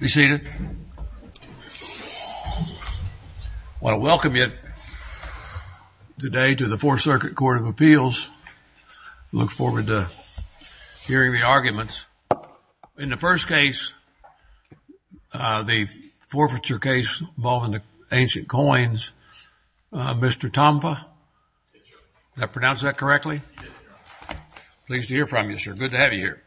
Be seated. I want to welcome you today to the Fourth Circuit Court of Appeals. I look forward to hearing the arguments. In the first case, the forfeiture case involving the ancient coins, Mr. Tompa? Did I pronounce that correctly? Pleased to hear from you, sir. Good to have you here.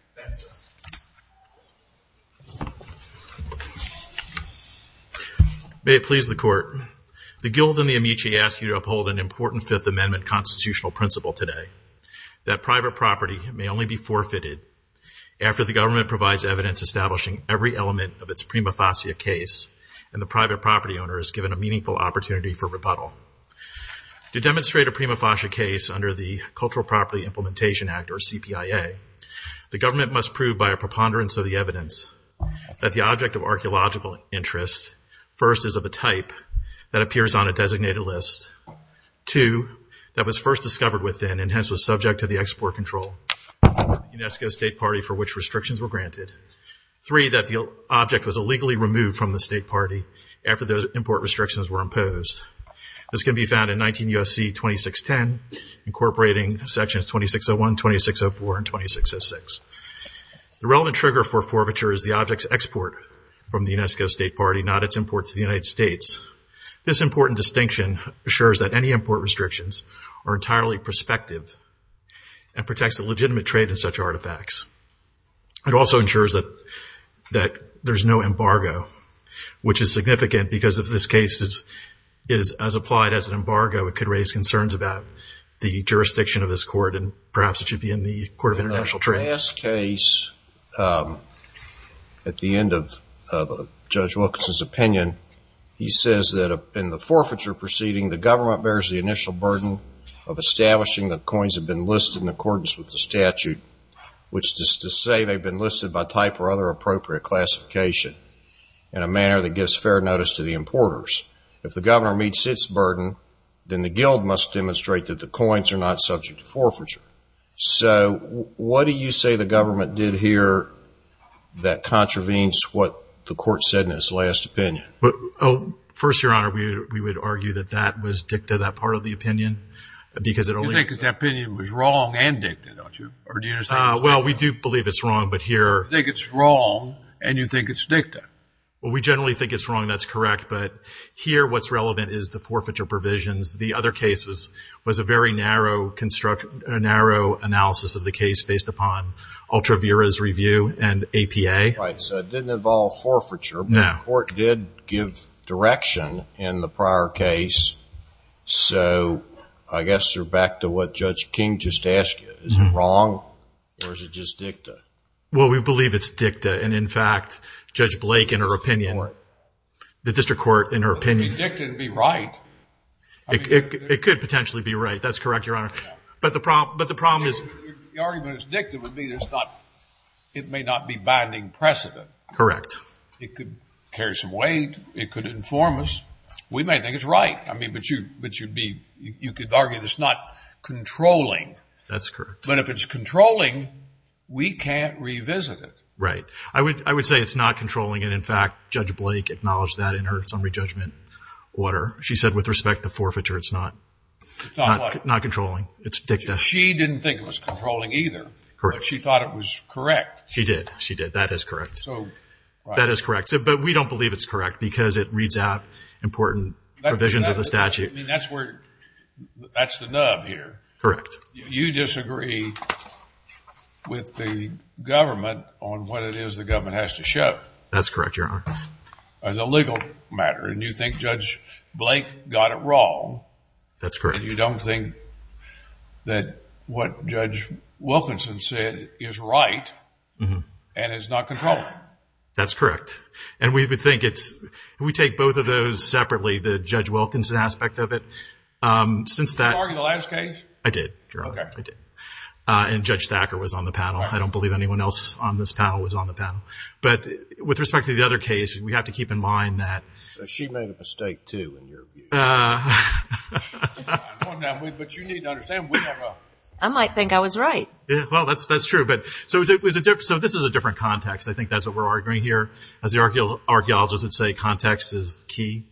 May it please the Court, the Guild and the Amici ask you to uphold an important Fifth Amendment constitutional principle today, that private property may only be forfeited after the government provides evidence establishing every element of its prima facie case and the private property owner is given a meaningful opportunity for rebuttal. To demonstrate a prima facie case under the Cultural Property Implementation Act or CPIA, the government must prove by a preponderance of the evidence that the object of archaeological interest first is of a type that appears on a designated list, two, that was first discovered within and hence was subject to the Export Control of the UNESCO State Party for which restrictions were granted, three, that the object was illegally removed from the State Party after those import restrictions were imposed. This can be found in 19 U.S.C. 2610 incorporating sections 2601, 2604 and 2606. The relevant trigger for forfeiture is the object's export from the UNESCO State Party, not its import to the United States. This important distinction assures that any import restrictions are entirely prospective and protects the legitimate trade in such artifacts. It also ensures that there's no embargo, which is significant because if this case is as applied as an embargo, it could raise concerns about the jurisdiction of this Court and perhaps it should be in the Court of International Trade. In the last case, at the end of Judge Wilkinson's opinion, he says that in the forfeiture proceeding, the government bears the initial burden of establishing that coins have been listed in accordance with the statute, which is to say they've been listed by type or other appropriate classification in a manner that gives fair notice to the importers. If the governor meets its burden, then the guild must demonstrate that the coins are not subject to forfeiture. So what do you say the government did here that contravenes what the Court said in its last opinion? First, Your Honor, we would argue that that was dicta, that part of the opinion, because it only... You think that opinion was wrong and dicta, don't you? Well, we do believe it's wrong, but here... You think it's wrong and you think it's dicta. Well, we generally think it's wrong, that's correct, but here what's relevant is the forfeiture provisions. The other case was a very narrow analysis of the case based upon Ultra Vira's review and APA. Right, so it didn't involve forfeiture, but the Court did give direction in the prior case, so I guess you're back to what Judge King just asked you. Is it wrong or is it just dicta? Well, we believe it's dicta, and in fact, Judge Blake, in her opinion, the district court, in her opinion... It could be dicta and be right. It could potentially be right, that's correct, Your Honor, but the problem is... The argument is dicta would mean it may not be binding precedent. Correct. It could carry some weight, it could inform us. We may think it's right, but you could argue that it's not controlling. That's correct. But if it's controlling, we can't revisit it. Right. I would say it's not controlling, and in fact, Judge Blake acknowledged that in her summary judgment order. She said with respect to forfeiture, it's not controlling. It's dicta. She didn't think it was controlling either, but she thought it was correct. She did, she did. That is correct. That is correct, but we don't believe it's correct because it reads out important provisions of the statute. That's the nub here. Correct. You disagree with the government on what it is the government has to show. That's correct, Your Honor. As a legal matter, and you think Judge Blake got it wrong. That's correct. And you don't think that what Judge Wilkinson said is right, and it's not controlling. That's correct, and we would think it's... We take both of those separately, the Judge Wilkinson aspect of it. Since that... Did you argue the last case? I did, Your Honor. Okay. I did. And Judge Thacker was on the panel. I don't believe anyone else on this panel was on the panel. But with respect to the other case, we have to keep in mind that... She made a mistake, too, in your view. I might think I was right. Well, that's true. So this is a different context. I think that's what we're arguing here. As the archaeologists would say, context is key.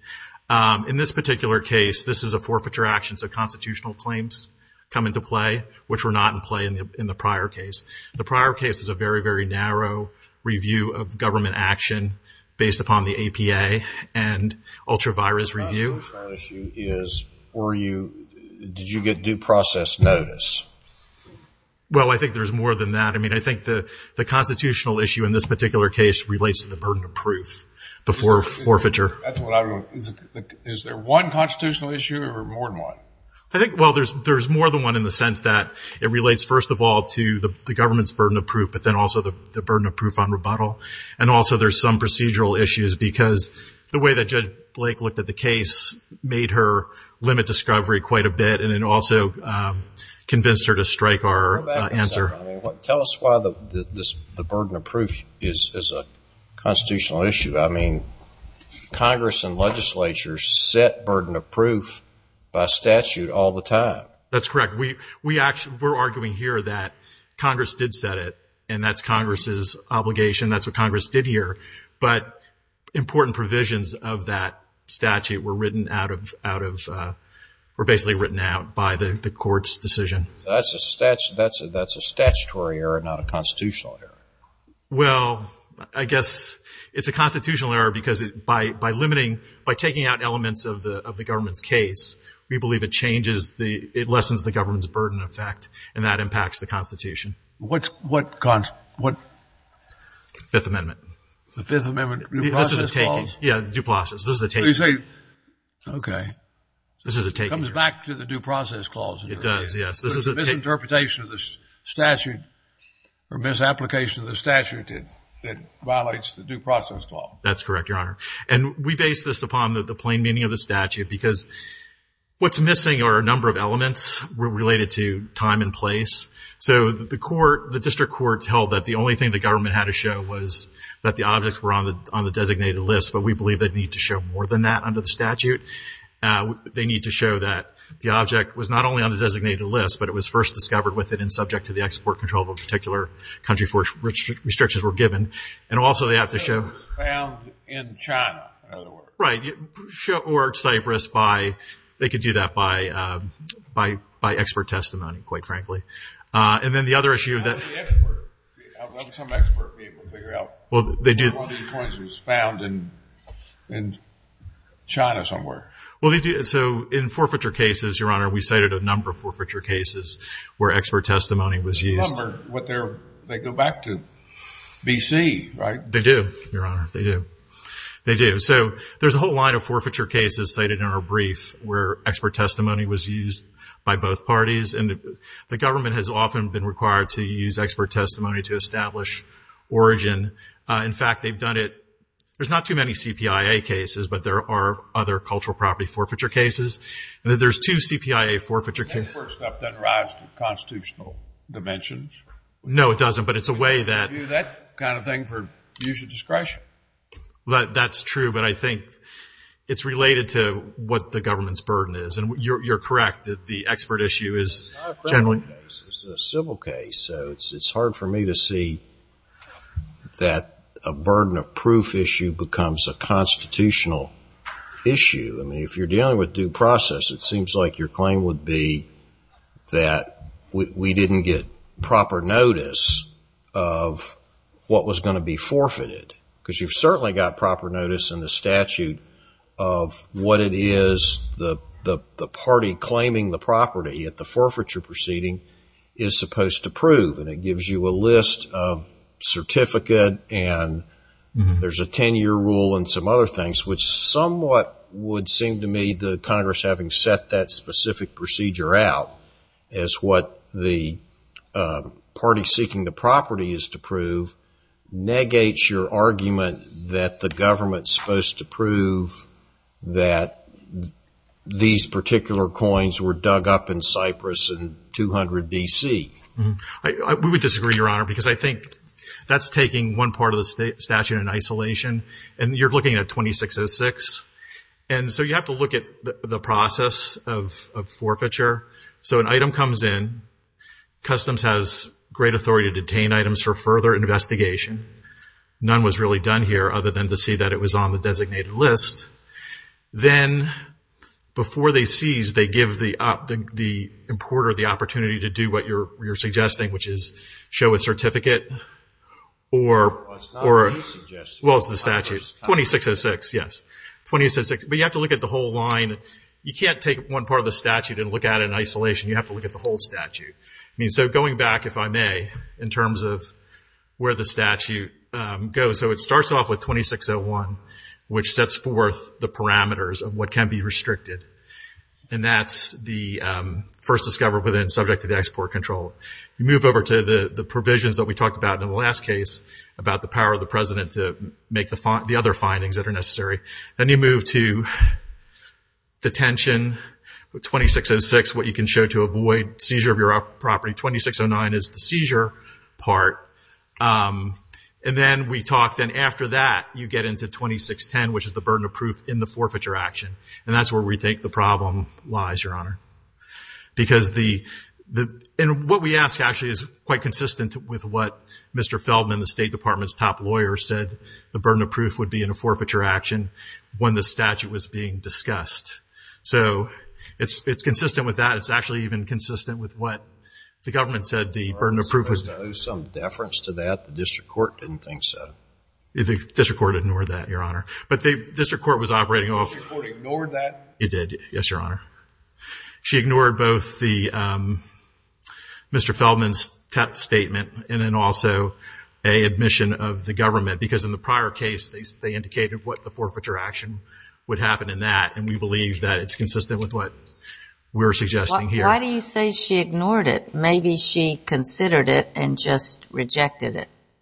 In this particular case, this is a forfeiture action, so constitutional claims come into play, which were not in play in the prior case. The prior case is a very, very narrow review of government action based upon the APA and ultra-virus review. The last constitutional issue is, were you... Did you get due process notice? Well, I think there's more than that. I mean, I think the constitutional issue in this particular case relates to the burden of proof before forfeiture. Is there one constitutional issue or more than one? I think, well, there's more than one in the sense that it relates, first of all, to the government's burden of proof, but then also the burden of proof on rebuttal. And also there's some procedural issues because the way that Judge Blake looked at the case made her limit discovery quite a bit and it also convinced her to strike our answer. Tell us why the burden of proof is a constitutional issue. I mean, Congress and legislatures set burden of proof by statute all the time. That's correct. We're arguing here that Congress did set it, and that's Congress's obligation. That's what Congress did here. But important provisions of that statute were written out of, were basically written out by the court's decision. That's a statutory error, not a constitutional error. Well, I guess it's a constitutional error because by limiting, by taking out elements of the government's case, we believe it changes the, it lessens the government's burden effect, and that impacts the Constitution. What's, what, what? Fifth Amendment. The Fifth Amendment due process clause? Yeah, due process. This is a taking. Okay. This is a taking. It comes back to the due process clause. It does, yes. It's a misinterpretation of the statute or misapplication of the statute that violates the due process clause. That's correct, Your Honor. And we base this upon the plain meaning of the statute because what's missing are a number of elements related to time and place. So the court, the district court held that the only thing the government had to show was that the objects were on the designated list, but we believe they need to show more than that under the statute. They need to show that the object was not only on the designated list, but it was first discovered with it and subject to the export control of a particular country for which restrictions were given. And also they have to show. Found in China, in other words. Right. Or Cyprus by, they could do that by, by, by expert testimony, quite frankly. And then the other issue that. How did the expert, some expert be able to figure out. Well, they do. One of these points was found in China somewhere. Well, they do. So in forfeiture cases, Your Honor, we cited a number of forfeiture cases where expert testimony was used. Remember what they go back to, B.C., right? They do, Your Honor. They do. They do. So there's a whole line of forfeiture cases cited in our brief where expert testimony was used by both parties. And the government has often been required to use expert testimony to establish origin. In fact, they've done it. There's not too many CPIA cases, but there are other cultural property forfeiture cases. And there's two CPIA forfeiture cases. That first step doesn't rise to constitutional dimensions. No, it doesn't. But it's a way that. That kind of thing for user discretion. That's true. But I think it's related to what the government's burden is. And you're correct that the expert issue is generally. It's a civil case. So it's hard for me to see that a burden of proof issue becomes a constitutional issue. I mean, if you're dealing with due process, it seems like your claim would be that we didn't get proper notice of what was going to be forfeited. Because you've certainly got proper notice in the statute of what it is the party claiming the property at the forfeiture proceeding is supposed to prove. And it gives you a list of certificate. And there's a 10-year rule and some other things, which somewhat would seem to me the Congress having set that specific procedure out as what the party seeking the property is to prove, negates your argument that the government's supposed to prove that these We would disagree, Your Honor, because I think that's taking one part of the statute in isolation. And you're looking at 2606. And so you have to look at the process of forfeiture. So an item comes in. Customs has great authority to detain items for further investigation. None was really done here other than to see that it was on the designated list. Then before they seize, they give the importer the opportunity to do what you're suggesting, which is show a certificate. Well, it's not you suggesting. Well, it's the statute. 2606, yes. But you have to look at the whole line. You can't take one part of the statute and look at it in isolation. You have to look at the whole statute. So going back, if I may, in terms of where the statute goes. So it starts off with 2601, which sets forth the parameters of what can be restricted. And that's the first discovery, but then subject to the export control. You move over to the provisions that we talked about in the last case, about the power of the president to make the other findings that are necessary. Then you move to detention, 2606, what you can show to avoid seizure of your property. 2609 is the seizure part. And then we talk. Then after that, you get into 2610, which is the burden of proof in the forfeiture action. And that's where we think the problem lies, Your Honor. And what we ask, actually, is quite consistent with what Mr. Feldman, the State Department's top lawyer, said the burden of proof would be in a forfeiture action when the statute was being discussed. So it's consistent with that. It's actually even consistent with what the government said the burden of proof was. There was some deference to that. The district court didn't think so. The district court ignored that, Your Honor. The district court ignored that? It did, yes, Your Honor. She ignored both Mr. Feldman's statement and then also a admission of the government. Because in the prior case, they indicated what the forfeiture action would happen in that. And we believe that it's consistent with what we're suggesting here. Why do you say she ignored it?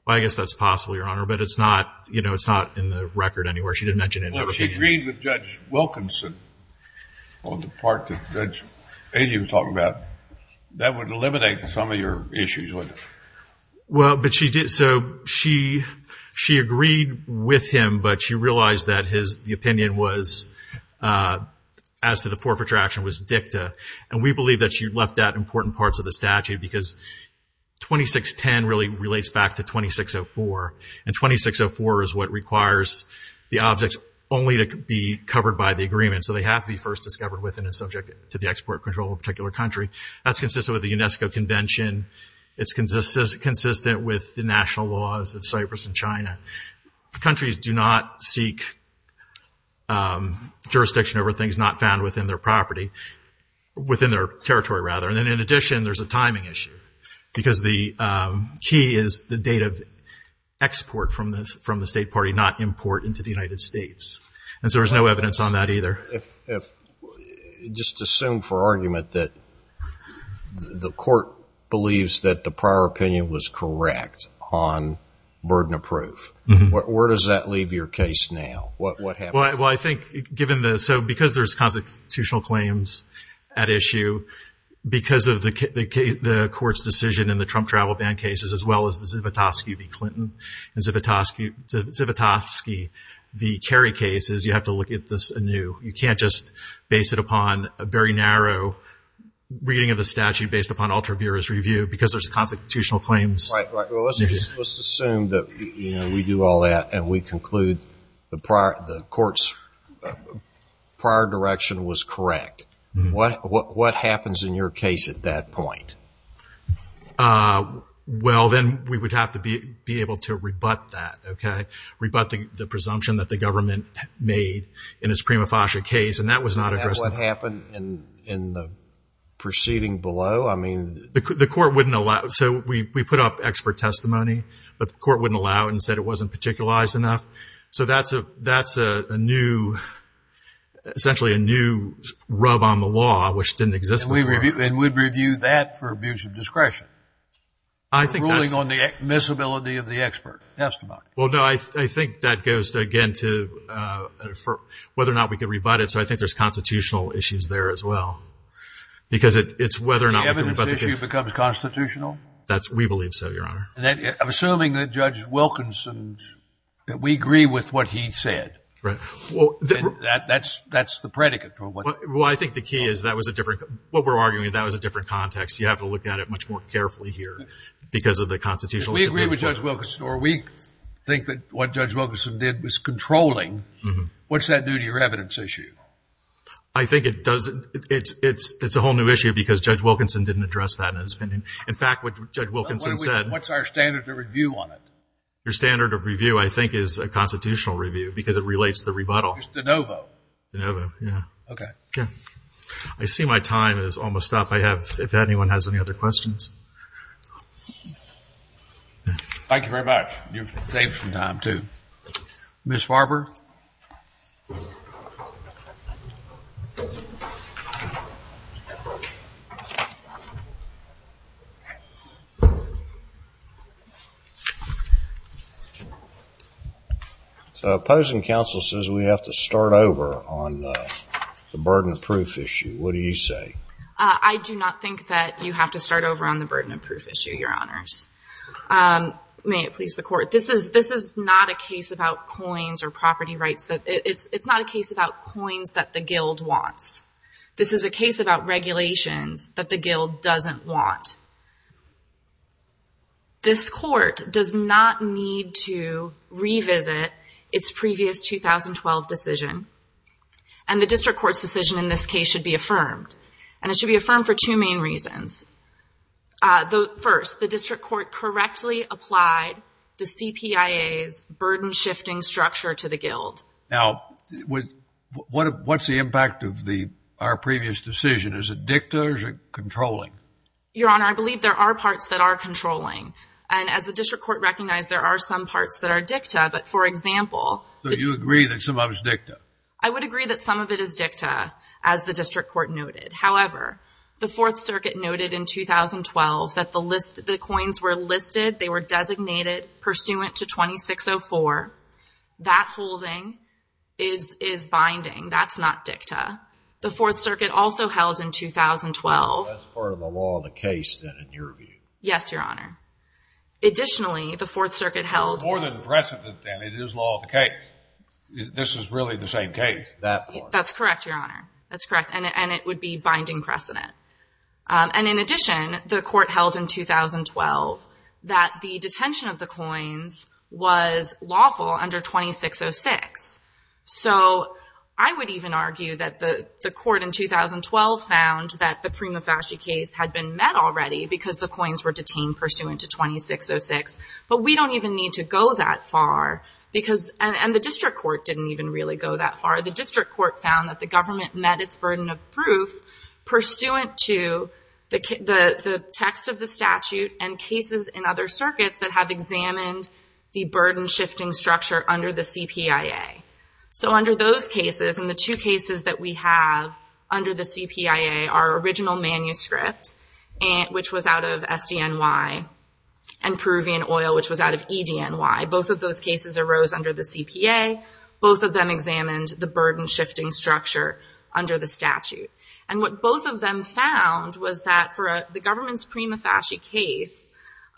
I guess that's possible, Your Honor. But it's not, you know, it's not in the record anywhere. She didn't mention it. Well, if she agreed with Judge Wilkinson on the part that Judge Agee was talking about, that would eliminate some of your issues, wouldn't it? Well, but she did. So she agreed with him, but she realized that the opinion was, as to the forfeiture action, was dicta. And we believe that she left out important parts of the statute because 2610 really relates back to 2604. And 2604 is what requires the objects only to be covered by the agreement. So they have to be first discovered within and subject to the export control of a particular country. That's consistent with the UNESCO Convention. It's consistent with the national laws of Cyprus and China. Countries do not seek jurisdiction over things not found within their property, within their territory, rather. And then, in addition, there's a timing issue. Because the key is the date of export from the State Party, not import into the United States. And so there's no evidence on that either. Just assume for argument that the court believes that the prior opinion was correct on burden of proof. Where does that leave your case now? What happens? Well, I think, given the, so because there's constitutional claims at issue, because of the court's decision in the Trump travel ban cases, as well as the Zivotofsky v. Clinton and Zivotofsky v. Kerry cases, you have to look at this anew. You can't just base it upon a very narrow reading of the statute based upon ultra-virus review because there's constitutional claims. Right. Well, let's assume that we do all that and we conclude the court's prior direction was correct. What happens in your case at that point? Well, then we would have to be able to rebut that, okay? Rebut the presumption that the government made in its prima facie case, and that was not addressed. And what happened in the proceeding below? I mean. The court wouldn't allow. So we put up expert testimony, but the court wouldn't allow it and said it wasn't particularized enough. So that's a new, essentially a new rub on the law, which didn't exist before. And we'd review that for abuse of discretion. I think that's. Ruling on the admissibility of the expert testimony. Well, no, I think that goes, again, to whether or not we could rebut it. So I think there's constitutional issues there as well, because it's whether or not we can rebut the case. The evidence issue becomes constitutional? We believe so, Your Honor. Assuming that Judge Wilkinson, that we agree with what he said. Right. That's the predicate for what. Well, I think the key is that was a different. What we're arguing, that was a different context. You have to look at it much more carefully here because of the constitutional. We agree with Judge Wilkinson, or we think that what Judge Wilkinson did was controlling. What's that do to your evidence issue? I think it does. It's a whole new issue because Judge Wilkinson didn't address that in his opinion. In fact, what Judge Wilkinson said. What's our standard of review on it? Your standard of review, I think, is a constitutional review because it relates to the rebuttal. It's de novo. De novo, yeah. Okay. I see my time is almost up. If anyone has any other questions. Thank you very much. You've saved some time, too. Ms. Farber. Opposing counsel says we have to start over on the burden of proof issue. What do you say? I do not think that you have to start over on the burden of proof issue, Your Honors. May it please the court. This is not a case about coins or property rights. It's not a case about coins that the guild wants. This is a case about regulations that the guild doesn't want. This court does not need to revisit its previous 2012 decision. And the district court's decision in this case should be affirmed. And it should be affirmed for two main reasons. First, the district court correctly applied the CPIA's burden shifting structure to the guild. Now, what's the impact of our previous decision? Is it dicta or is it controlling? Your Honor, I believe there are parts that are controlling. And as the district court recognized, there are some parts that are dicta. But, for example... So you agree that some of it is dicta? I would agree that some of it is dicta, as the district court noted. However, the Fourth Circuit noted in 2012 that the coins were listed. They were designated pursuant to 2604. That holding is binding. That's not dicta. The Fourth Circuit also held in 2012... That's part of the law of the case, then, in your view. Yes, Your Honor. Additionally, the Fourth Circuit held... It's more than precedent, then. It is law of the case. This is really the same case, that part. That's correct, Your Honor. That's correct. And it would be binding precedent. And, in addition, the court held in 2012 that the detention of the coins was lawful under 2606. So, I would even argue that the court in 2012 found that the Prima Facie case had been met already, because the coins were detained pursuant to 2606. But, we don't even need to go that far, because... And the district court didn't even really go that far. The district court found that the government met its burden of proof pursuant to the text of the statute and cases in other circuits that have examined the burden-shifting structure under the CPIA. So, under those cases, and the two cases that we have under the CPIA, our original manuscript, which was out of SDNY, and Peruvian oil, which was out of EDNY. Both of those cases arose under the CPA. Both of them examined the burden-shifting structure under the statute. And what both of them found was that for the government's Prima Facie case,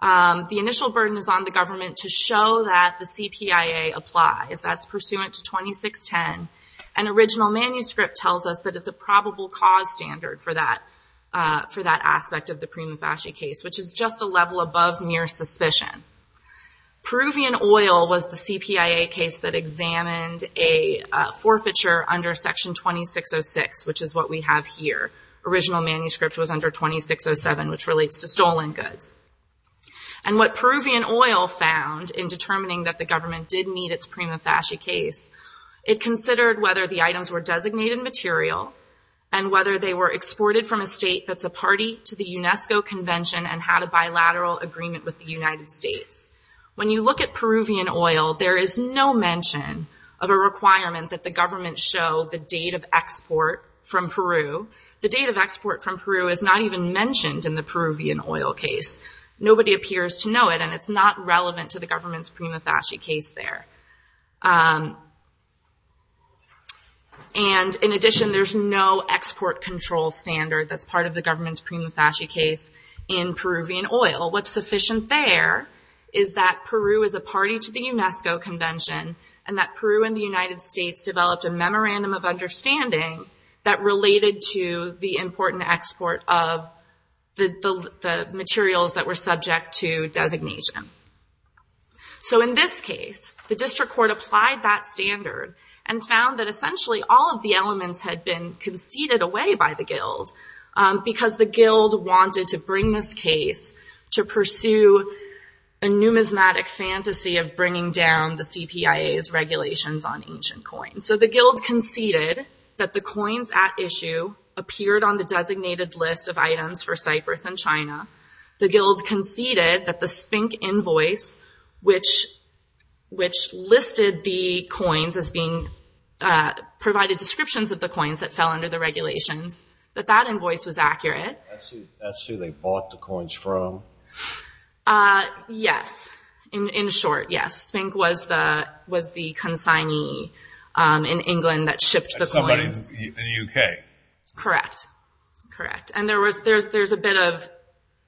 the initial burden is on the government to show that the CPIA applies. That's pursuant to 2610. An original manuscript tells us that it's a probable cause standard for that aspect of the Prima Facie case, which is just a level above mere suspicion. Peruvian oil was the CPIA case that examined a forfeiture under Section 2606, which is what we have here. Original manuscript was under 2607, which relates to stolen goods. And what Peruvian oil found in determining that the government did meet its Prima Facie case, it considered whether the items were designated material and whether they were exported from a state that's a party to the UNESCO Convention and had a bilateral agreement with the United States. When you look at Peruvian oil, there is no mention of a requirement that the government show the date of export from Peru. The date of export from Peru is not even mentioned in the Peruvian oil case. Nobody appears to know it, and it's not relevant to the government's Prima Facie case there. And in addition, there's no export control standard that's part of the government's Prima Facie case in Peruvian oil. What's sufficient there is that Peru is a party to the UNESCO Convention and that Peru and the United States developed a memorandum of understanding that related to the important export of the materials that were subject to designation. So in this case, the district court applied that standard and found that essentially all of the elements had been conceded away by the guild because the guild wanted to bring this case to pursue a numismatic fantasy of bringing down the CPIA's regulations on ancient coins. So the guild conceded that the coins at issue appeared on the designated list of items for Cyprus and China. The guild conceded that the SPINC invoice, which listed the coins as being provided descriptions of the coins that fell under the regulations, that that invoice was accurate. That's who they bought the coins from? Yes, in short, yes. SPINC was the consignee in England that shipped the coins. Somebody in the UK? Correct, correct. And there's a bit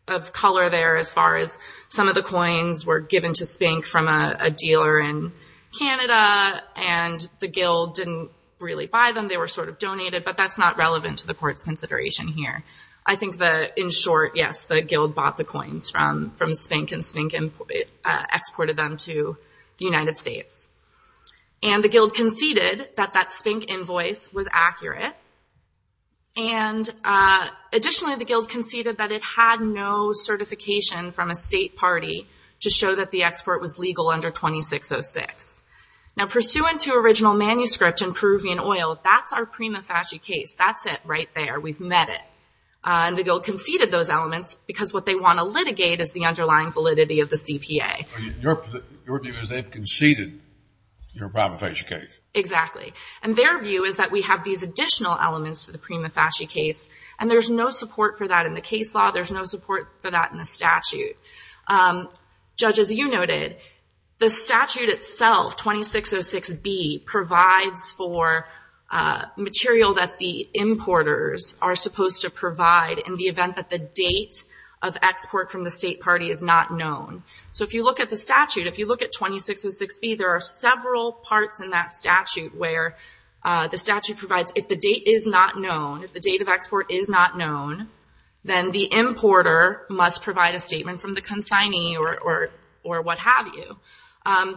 of color there as far as some of the coins were given to SPINC from a dealer in Canada and the guild didn't really buy them, they were sort of donated, but that's not relevant to the court's consideration here. I think that in short, yes, the guild bought the coins from SPINC and SPINC exported them to the United States. And the guild conceded that that SPINC invoice was accurate and additionally the guild conceded that it had no certification from a state party to show that the export was legal under 2606. Now pursuant to original manuscript in Peruvian oil, that's our prima facie case. That's it right there, we've met it. And the guild conceded those elements because what they want to litigate is the underlying validity of the CPA. Your view is they've conceded your prima facie case. Exactly. And their view is that we have these additional elements to the prima facie case and there's no support for that in the case law, there's no support for that in the statute. Judge, as you noted, the statute itself, 2606B, provides for material that the importers are supposed to provide in the event that the date of export from the state party is not known. So if you look at the statute, if you look at 2606B, there are several parts in that statute where the statute provides, if the date is not known, if the date of export is not known, then the importer must provide a statement from the consignee or what have you.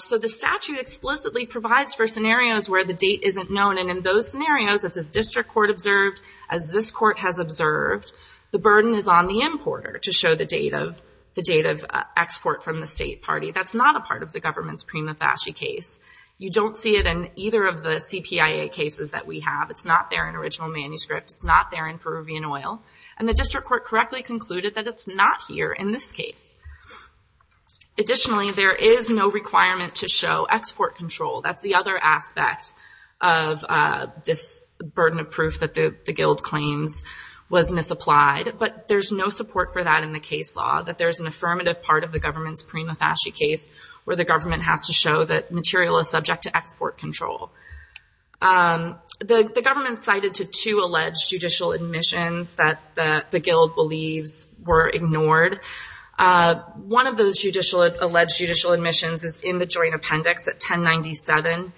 So the statute explicitly provides for scenarios where the date isn't known and in those scenarios, as the district court observed, as this court has observed, the burden is on the importer to show the date of export from the state party. That's not a part of the government's prima facie case. You don't see it in either of the CPIA cases that we have. It's not there in original manuscripts. It's not there in Peruvian oil. And the district court correctly concluded that it's not here in this case. Additionally, there is no requirement to show export control. That's the other aspect of this burden of proof that the guild claims was misapplied. But there's no support for that in the case law, that there's an affirmative part of the government's prima facie case where the government has to show that material is subject to export control. The government cited to two alleged judicial admissions that the guild believes were ignored. One of those alleged judicial admissions is in the joint appendix at 1097.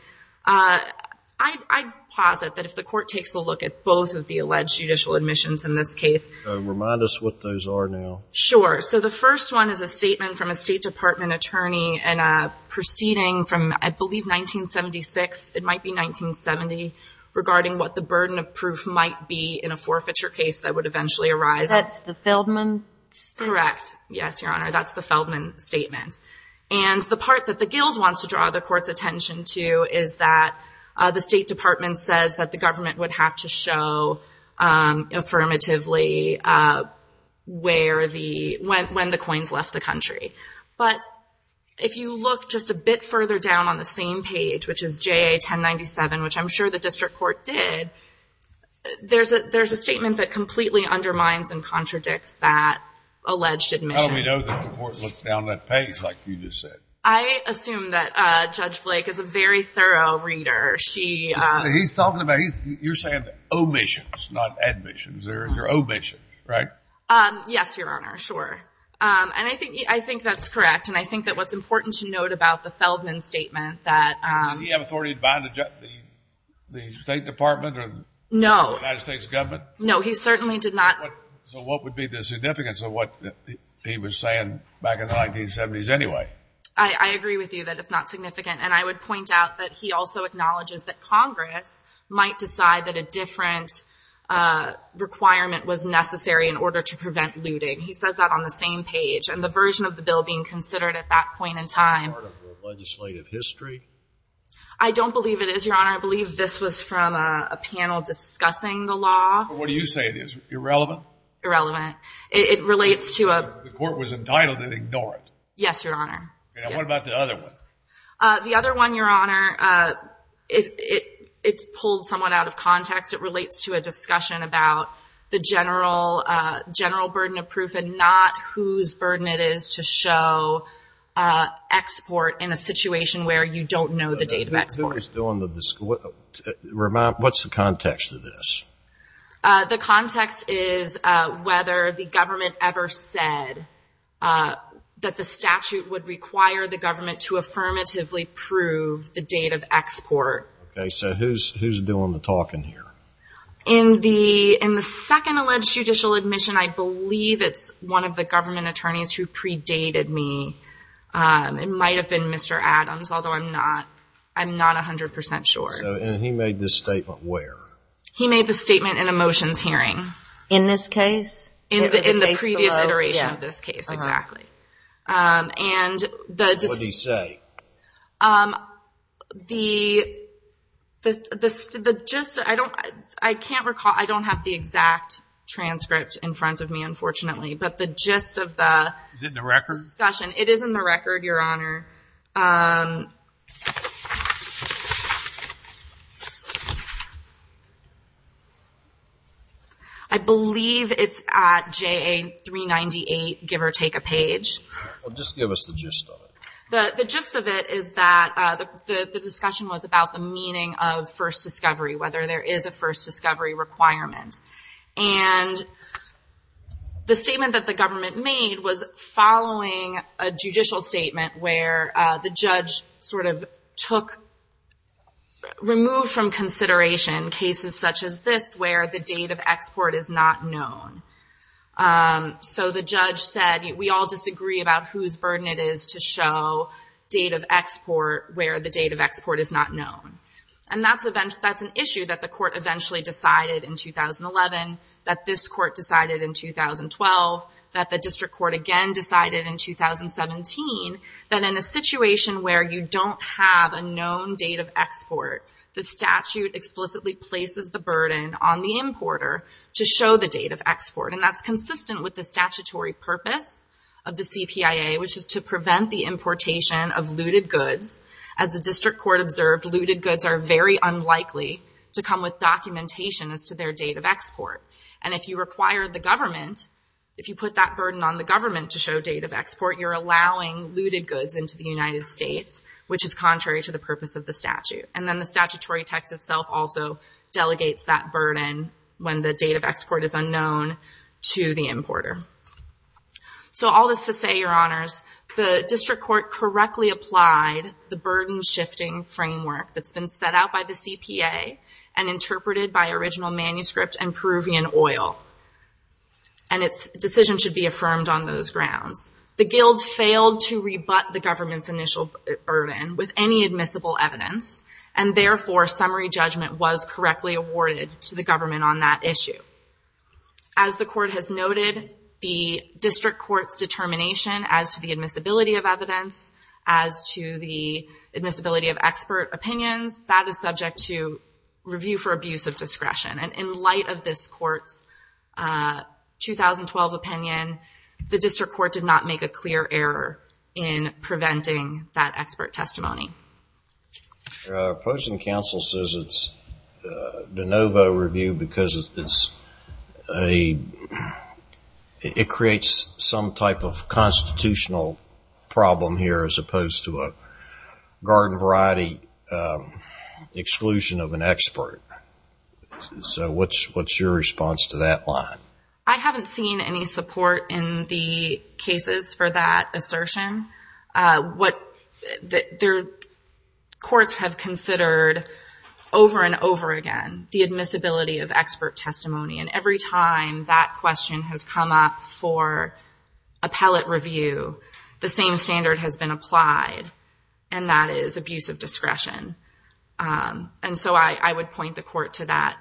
I'd posit that if the court takes a look at both of the alleged judicial admissions in this case. Remind us what those are now. Sure. So the first one is a statement from a State Department attorney in a proceeding from I believe 1976, it might be 1970, regarding what the burden of proof might be in a forfeiture case that would eventually arise. Is that the Feldman statement? Correct. Yes, Your Honor, that's the Feldman statement. And the part that the guild wants to draw the court's attention to is that the State Department says that the government would have to show affirmatively when the coins left the country. But if you look just a bit further down on the same page, which is JA 1097, which I'm sure the district court did, there's a statement that completely undermines and contradicts that alleged admission. Oh, we know that the court looked down that page like you just said. I assume that Judge Blake is a very thorough reader. He's talking about, you're saying omissions, not admissions. They're omissions, right? Yes, Your Honor, sure. And I think that's correct, and I think that what's important to note about the Feldman statement that Did he have authority to bind the State Department or the United States government? No, he certainly did not. So what would be the significance of what he was saying back in the 1970s anyway? I agree with you that it's not significant, and I would point out that he also acknowledges that Congress might decide that a different requirement was necessary in order to prevent looting. He says that on the same page. And the version of the bill being considered at that point in time Is that part of the legislative history? I don't believe it is, Your Honor. I believe this was from a panel discussing the law. What do you say it is, irrelevant? Irrelevant. It relates to a The court was entitled to ignore it. Yes, Your Honor. And what about the other one? The other one, Your Honor, it's pulled somewhat out of context. It relates to a discussion about the general burden of proof and not whose burden it is to show export in a situation where you don't know the date of export. Who is doing the Remind, what's the context of this? The context is whether the government ever said that the statute would require the government to affirmatively prove the date of export. Okay, so who's doing the talking here? In the second alleged judicial admission, I believe it's one of the government attorneys who predated me. It might have been Mr. Adams, although I'm not 100% sure. And he made this statement where? He made the statement in a motions hearing. In this case? In the previous iteration of this case, exactly. What did he say? The gist, I can't recall. I don't have the exact transcript in front of me, unfortunately. But the gist of the discussion. Is it in the record? It is in the record, Your Honor. I believe it's at JA 398, give or take a page. Just give us the gist of it. The gist of it is that the discussion was about the meaning of first discovery, whether there is a first discovery requirement. And the statement that the government made was following a judicial statement where the judge sort of took, removed from consideration cases such as this where the date of export is not known. So the judge said, we all disagree about whose burden it is to show date of export where the date of export is not known. And that's an issue that the court eventually decided in 2011, that this court decided in 2012, that the district court again decided in 2017, that in a situation where you don't have a known date of export, the statute explicitly places the burden on the importer to show the date of export. And that's consistent with the statutory purpose of the CPIA, which is to prevent the importation of looted goods. As the district court observed, looted goods are very unlikely to come with documentation as to their date of export. And if you require the government, if you put that burden on the government to show date of export, you're allowing looted goods into the United States, which is contrary to the purpose of the statute. And then the statutory text itself also delegates that burden when the date of export is unknown to the importer. So all this to say, your honors, the district court correctly applied the burden shifting framework that's been set out by the CPA and interpreted by original manuscript and Peruvian oil. And its decision should be affirmed on those grounds. The guild failed to rebut the government's initial burden with any admissible evidence. And therefore, summary judgment was correctly awarded to the government on that issue. As the court has noted, the district court's determination as to the admissibility of evidence, as to the admissibility of expert opinions, that is subject to review for abuse of discretion. And in light of this court's 2012 opinion, the district court did not make a clear error in preventing that expert testimony. The opposing counsel says it's de novo review because it creates some type of constitutional problem here as opposed to a garden variety exclusion of an expert. So what's your response to that line? I haven't seen any support in the cases for that assertion. Courts have considered over and over again the admissibility of expert testimony. And every time that question has come up for appellate review, the same standard has been applied, and that is abuse of discretion. And so I would point the court to that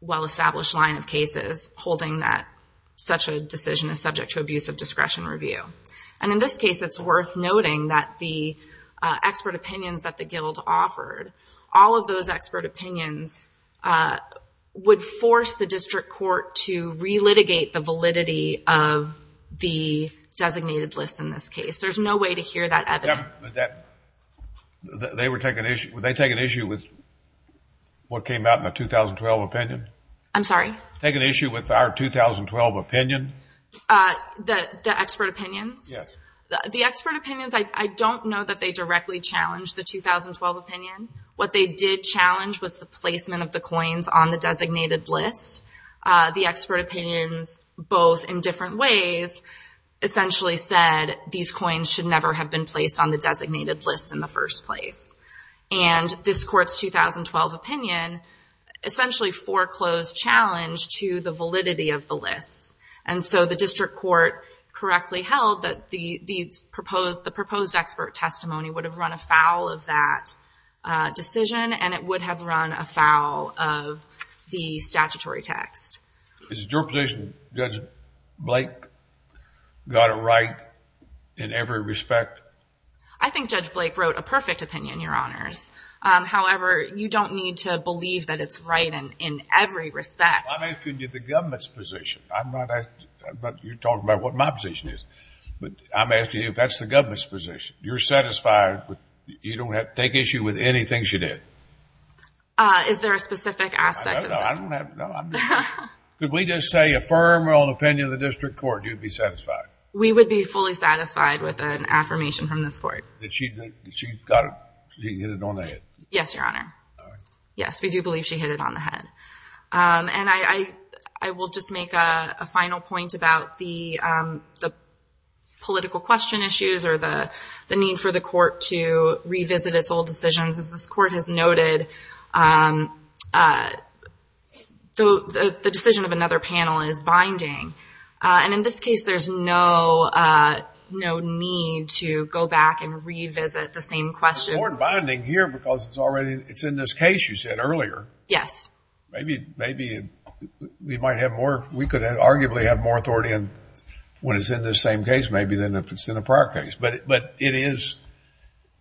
well-established line of cases holding that such a decision is subject to abuse of discretion review. And in this case, it's worth noting that the expert opinions that the guild offered, all of those expert opinions would force the district court to re-litigate the validity of the designated list in this case. There's no way to hear that evidence. Would they take an issue with what came out in the 2012 opinion? I'm sorry? Take an issue with our 2012 opinion? The expert opinions? Yes. The expert opinions, I don't know that they directly challenged the 2012 opinion. What they did challenge was the placement of the coins on the designated list. The expert opinions, both in different ways, essentially said these coins should never have been placed on the designated list in the first place. And this court's 2012 opinion essentially foreclosed challenge to the validity of the list. And so the district court correctly held that the proposed expert testimony would have run afoul of that decision, and it would have run afoul of the statutory text. Is it your position Judge Blake got it right in every respect? I think Judge Blake wrote a perfect opinion, Your Honors. However, you don't need to believe that it's right in every respect. I'm asking you the government's position. You're talking about what my position is. But I'm asking you if that's the government's position. You're satisfied you don't have to take issue with any things you did? Is there a specific aspect of that? No. Could we just say affirm our own opinion of the district court and you'd be satisfied? We would be fully satisfied with an affirmation from this court. Did she hit it on the head? Yes, Your Honor. All right. Yes, we do believe she hit it on the head. And I will just make a final point about the political question issues or the need for the court to revisit its old decisions. As this court has noted, the decision of another panel is binding. And in this case, there's no need to go back and revisit the same questions. It's more binding here because it's in this case you said earlier. Yes. Maybe we could arguably have more authority when it's in this same case maybe than if it's in a prior case. But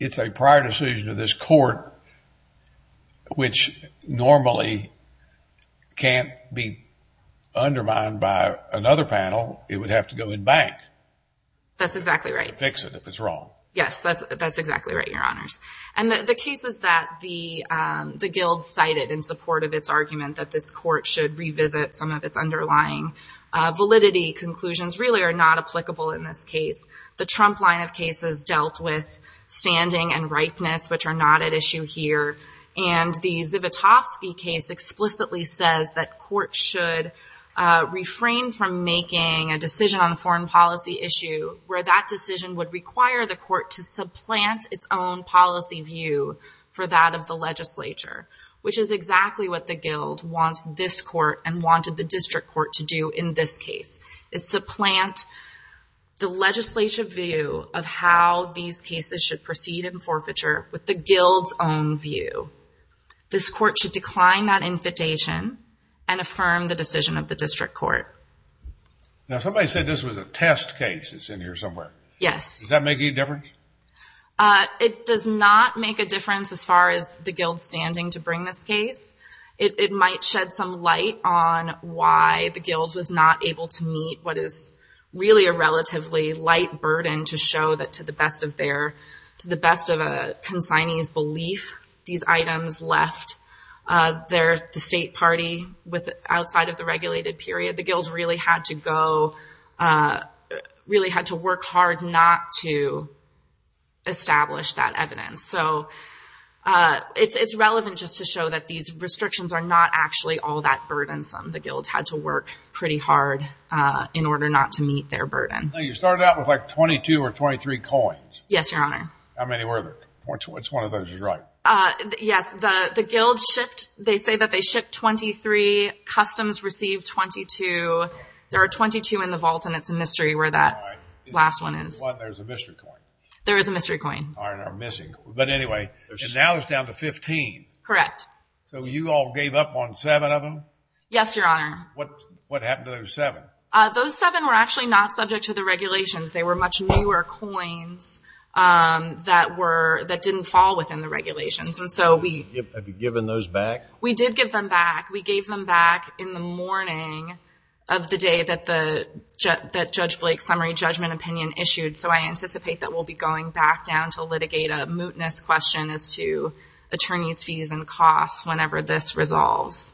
it's a prior decision of this court, which normally can't be undermined by another panel. It would have to go in bank. That's exactly right. To fix it if it's wrong. Yes, that's exactly right, Your Honors. And the cases that the guild cited in support of its argument that this court should revisit some of its underlying validity conclusions really are not applicable in this case. The Trump line of cases dealt with standing and ripeness, which are not at issue here. And the Zivotofsky case explicitly says that courts should refrain from making a decision on a foreign policy issue where that decision would require the court to supplant its own policy view for that of the legislature, which is exactly what the guild wants this court and wanted the district court to do in this case. It's to plant the legislature view of how these cases should proceed in forfeiture with the guild's own view. This court should decline that invitation and affirm the decision of the district court. Now somebody said this was a test case that's in here somewhere. Yes. Does that make any difference? It does not make a difference as far as the guild standing to bring this case. It might shed some light on why the guild was not able to meet what is really a relatively light burden to show that to the best of a consignee's belief, these items left the state party outside of the regulated period. The guild really had to go, really had to work hard not to establish that evidence. It's relevant just to show that these restrictions are not actually all that burdensome. The guild had to work pretty hard in order not to meet their burden. You started out with like 22 or 23 coins. Yes, Your Honor. How many were there? Which one of those is right? Yes, the guild shipped, they say that they shipped 23. Customs received 22. There are 22 in the vault and it's a mystery where that last one is. There's a mystery coin. There is a mystery coin. Now it's down to 15. Correct. You all gave up on seven of them? Yes, Your Honor. What happened to those seven? Those seven were actually not subject to the regulations. They were much newer coins that didn't fall within the regulations. Have you given those back? We did give them back. We gave them back in the morning of the day that Judge Blake's summary judgment opinion issued. So I anticipate that we'll be going back down to litigate a mootness question as to attorney's fees and costs whenever this resolves.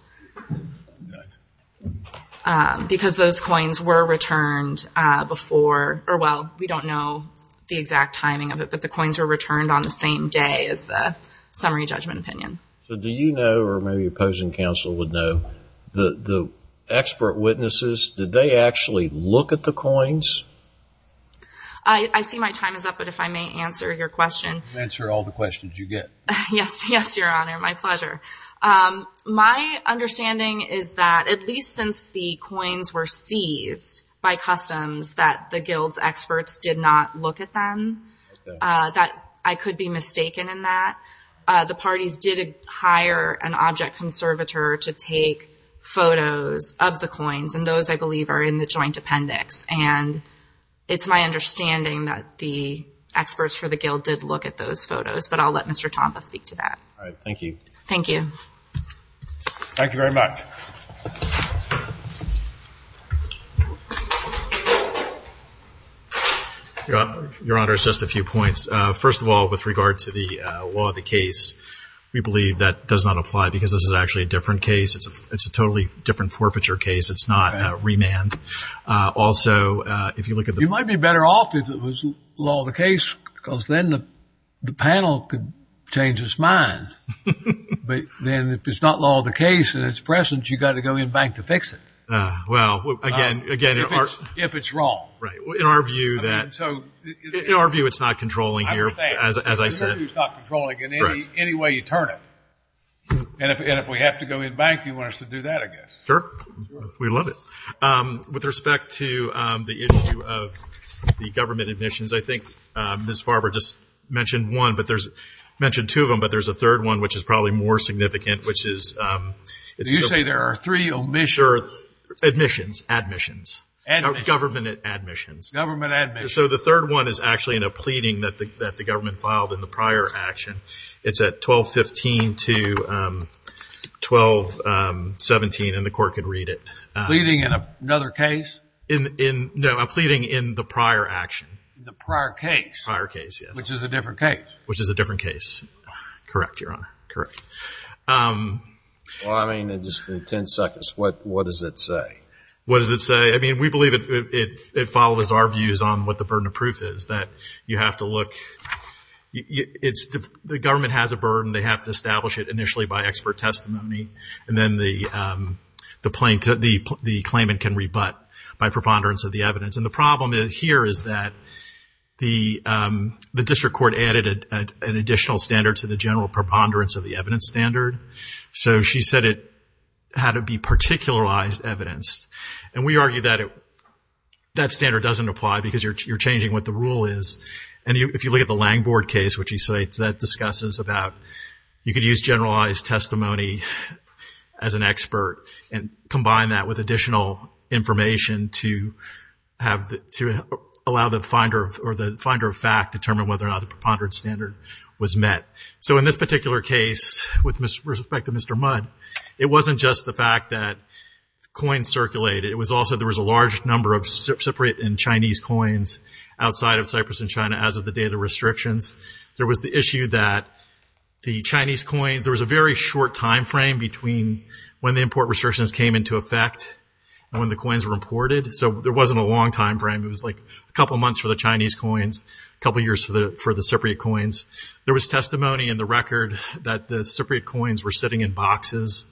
Because those coins were returned before. Or, well, we don't know the exact timing of it, but the coins were returned on the same day as the summary judgment opinion. So do you know, or maybe opposing counsel would know, that the expert witnesses, did they actually look at the coins? I see my time is up, but if I may answer your question. Answer all the questions you get. Yes, Your Honor, my pleasure. My understanding is that at least since the coins were seized by customs, that the guild's experts did not look at them, that I could be mistaken in that. The parties did hire an object conservator to take photos of the coins, and those, I believe, are in the joint appendix. And it's my understanding that the experts for the guild did look at those photos. But I'll let Mr. Tompa speak to that. All right, thank you. Thank you. Thank you very much. Your Honor, just a few points. First of all, with regard to the law of the case, we believe that does not apply because this is actually a different case. It's a totally different forfeiture case. It's not remand. Also, if you look at the ---- You might be better off if it was law of the case, because then the panel could change its mind. But then if it's not law of the case and it's present, you've got to go in bank to fix it. Well, again, in our ---- If it's wrong. Right. In our view, it's not controlling here, as I said. It's not controlling in any way you turn it. And if we have to go in bank, you want us to do that, I guess. Sure. We'd love it. With respect to the issue of the government admissions, I think Ms. Farber just mentioned one, mentioned two of them, but there's a third one which is probably more significant, which is ---- You say there are three omissions. Admissions. Admissions. Government admissions. Government admissions. So the third one is actually in a pleading that the government filed in the prior action. It's at 1215 to 1217, and the Court could read it. Pleading in another case? No, a pleading in the prior action. The prior case. Prior case, yes. Which is a different case. Which is a different case. Correct, Your Honor. Correct. Well, I mean, in just ten seconds, what does it say? What does it say? I mean, we believe it follows our views on what the burden of proof is, that you have to look. The government has a burden. They have to establish it initially by expert testimony, and then the claimant can rebut by preponderance of the evidence. And the problem here is that the district court added an additional standard to the general preponderance of the evidence standard, so she said it had to be particularized evidence. And we argue that that standard doesn't apply because you're changing what the rule is. And if you look at the Langbord case, which he cites, that discusses about you could use generalized testimony as an expert and combine that with additional information to allow the finder of fact to determine whether or not the preponderance standard was met. So in this particular case, with respect to Mr. Mudd, it wasn't just the fact that coins circulated. It was also there was a large number of Cypriot and Chinese coins outside of Cyprus and China as of the date of the restrictions. There was the issue that the Chinese coins, there was a very short time frame between when the import restrictions came into effect and when the coins were imported. So there wasn't a long time frame. It was like a couple months for the Chinese coins, a couple years for the Cypriot coins. There was testimony in the record that the Cypriot coins were sitting in boxes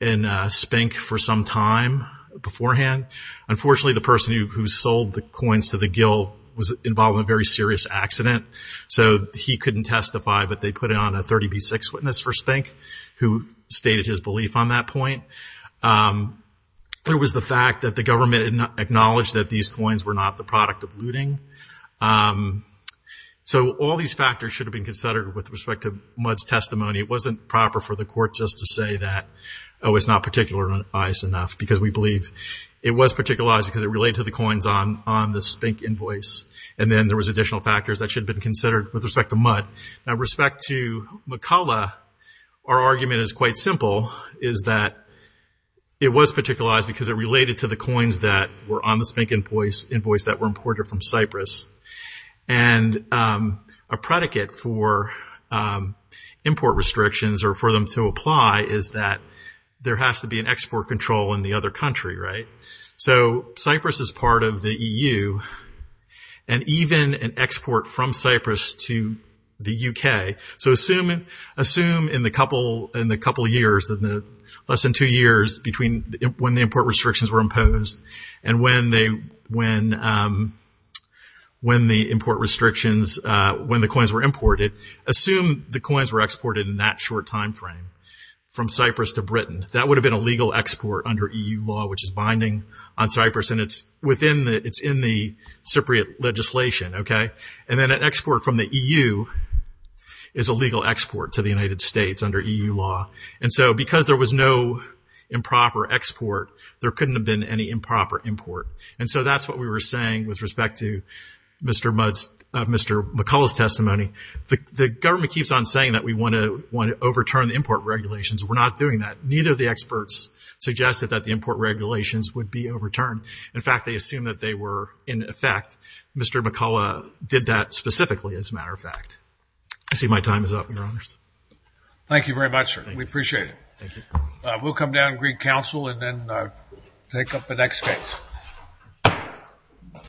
in Spink for some time beforehand. Unfortunately, the person who sold the coins to the gill was involved in a very serious accident. So he couldn't testify, but they put on a 30B6 witness for Spink who stated his belief on that point. There was the fact that the government acknowledged that these coins were not the product of looting. So all these factors should have been considered with respect to Mudd's testimony. It wasn't proper for the court just to say that, oh, it's not particular enough because we believe it was particularized because it related to the coins on the Spink invoice. And then there was additional factors that should have been considered with respect to Mudd. Now, with respect to McCullough, our argument is quite simple, is that it was particularized because it related to the coins that were on the Spink invoice that were imported from Cyprus. And a predicate for import restrictions or for them to apply is that there has to be an export control in the other country, right? So Cyprus is part of the EU, and even an export from Cyprus to the U.K. So assume in the couple years, less than two years, between when the import restrictions were imposed and when the coins were imported, assume the coins were exported in that short time frame from Cyprus to Britain. That would have been a legal export under EU law, which is binding on Cyprus, and it's in the Cypriot legislation, okay? And then an export from the EU is a legal export to the United States under EU law. And so because there was no improper export, there couldn't have been any improper import. And so that's what we were saying with respect to Mr. Mudd's, Mr. McCullough's testimony. The government keeps on saying that we want to overturn the import regulations. We're not doing that. Neither of the experts suggested that the import regulations would be overturned. In fact, they assumed that they were in effect. Mr. McCullough did that specifically, as a matter of fact. I see my time is up, Your Honors. Thank you very much, sir. We appreciate it. We'll come down and greet counsel and then take up the next case.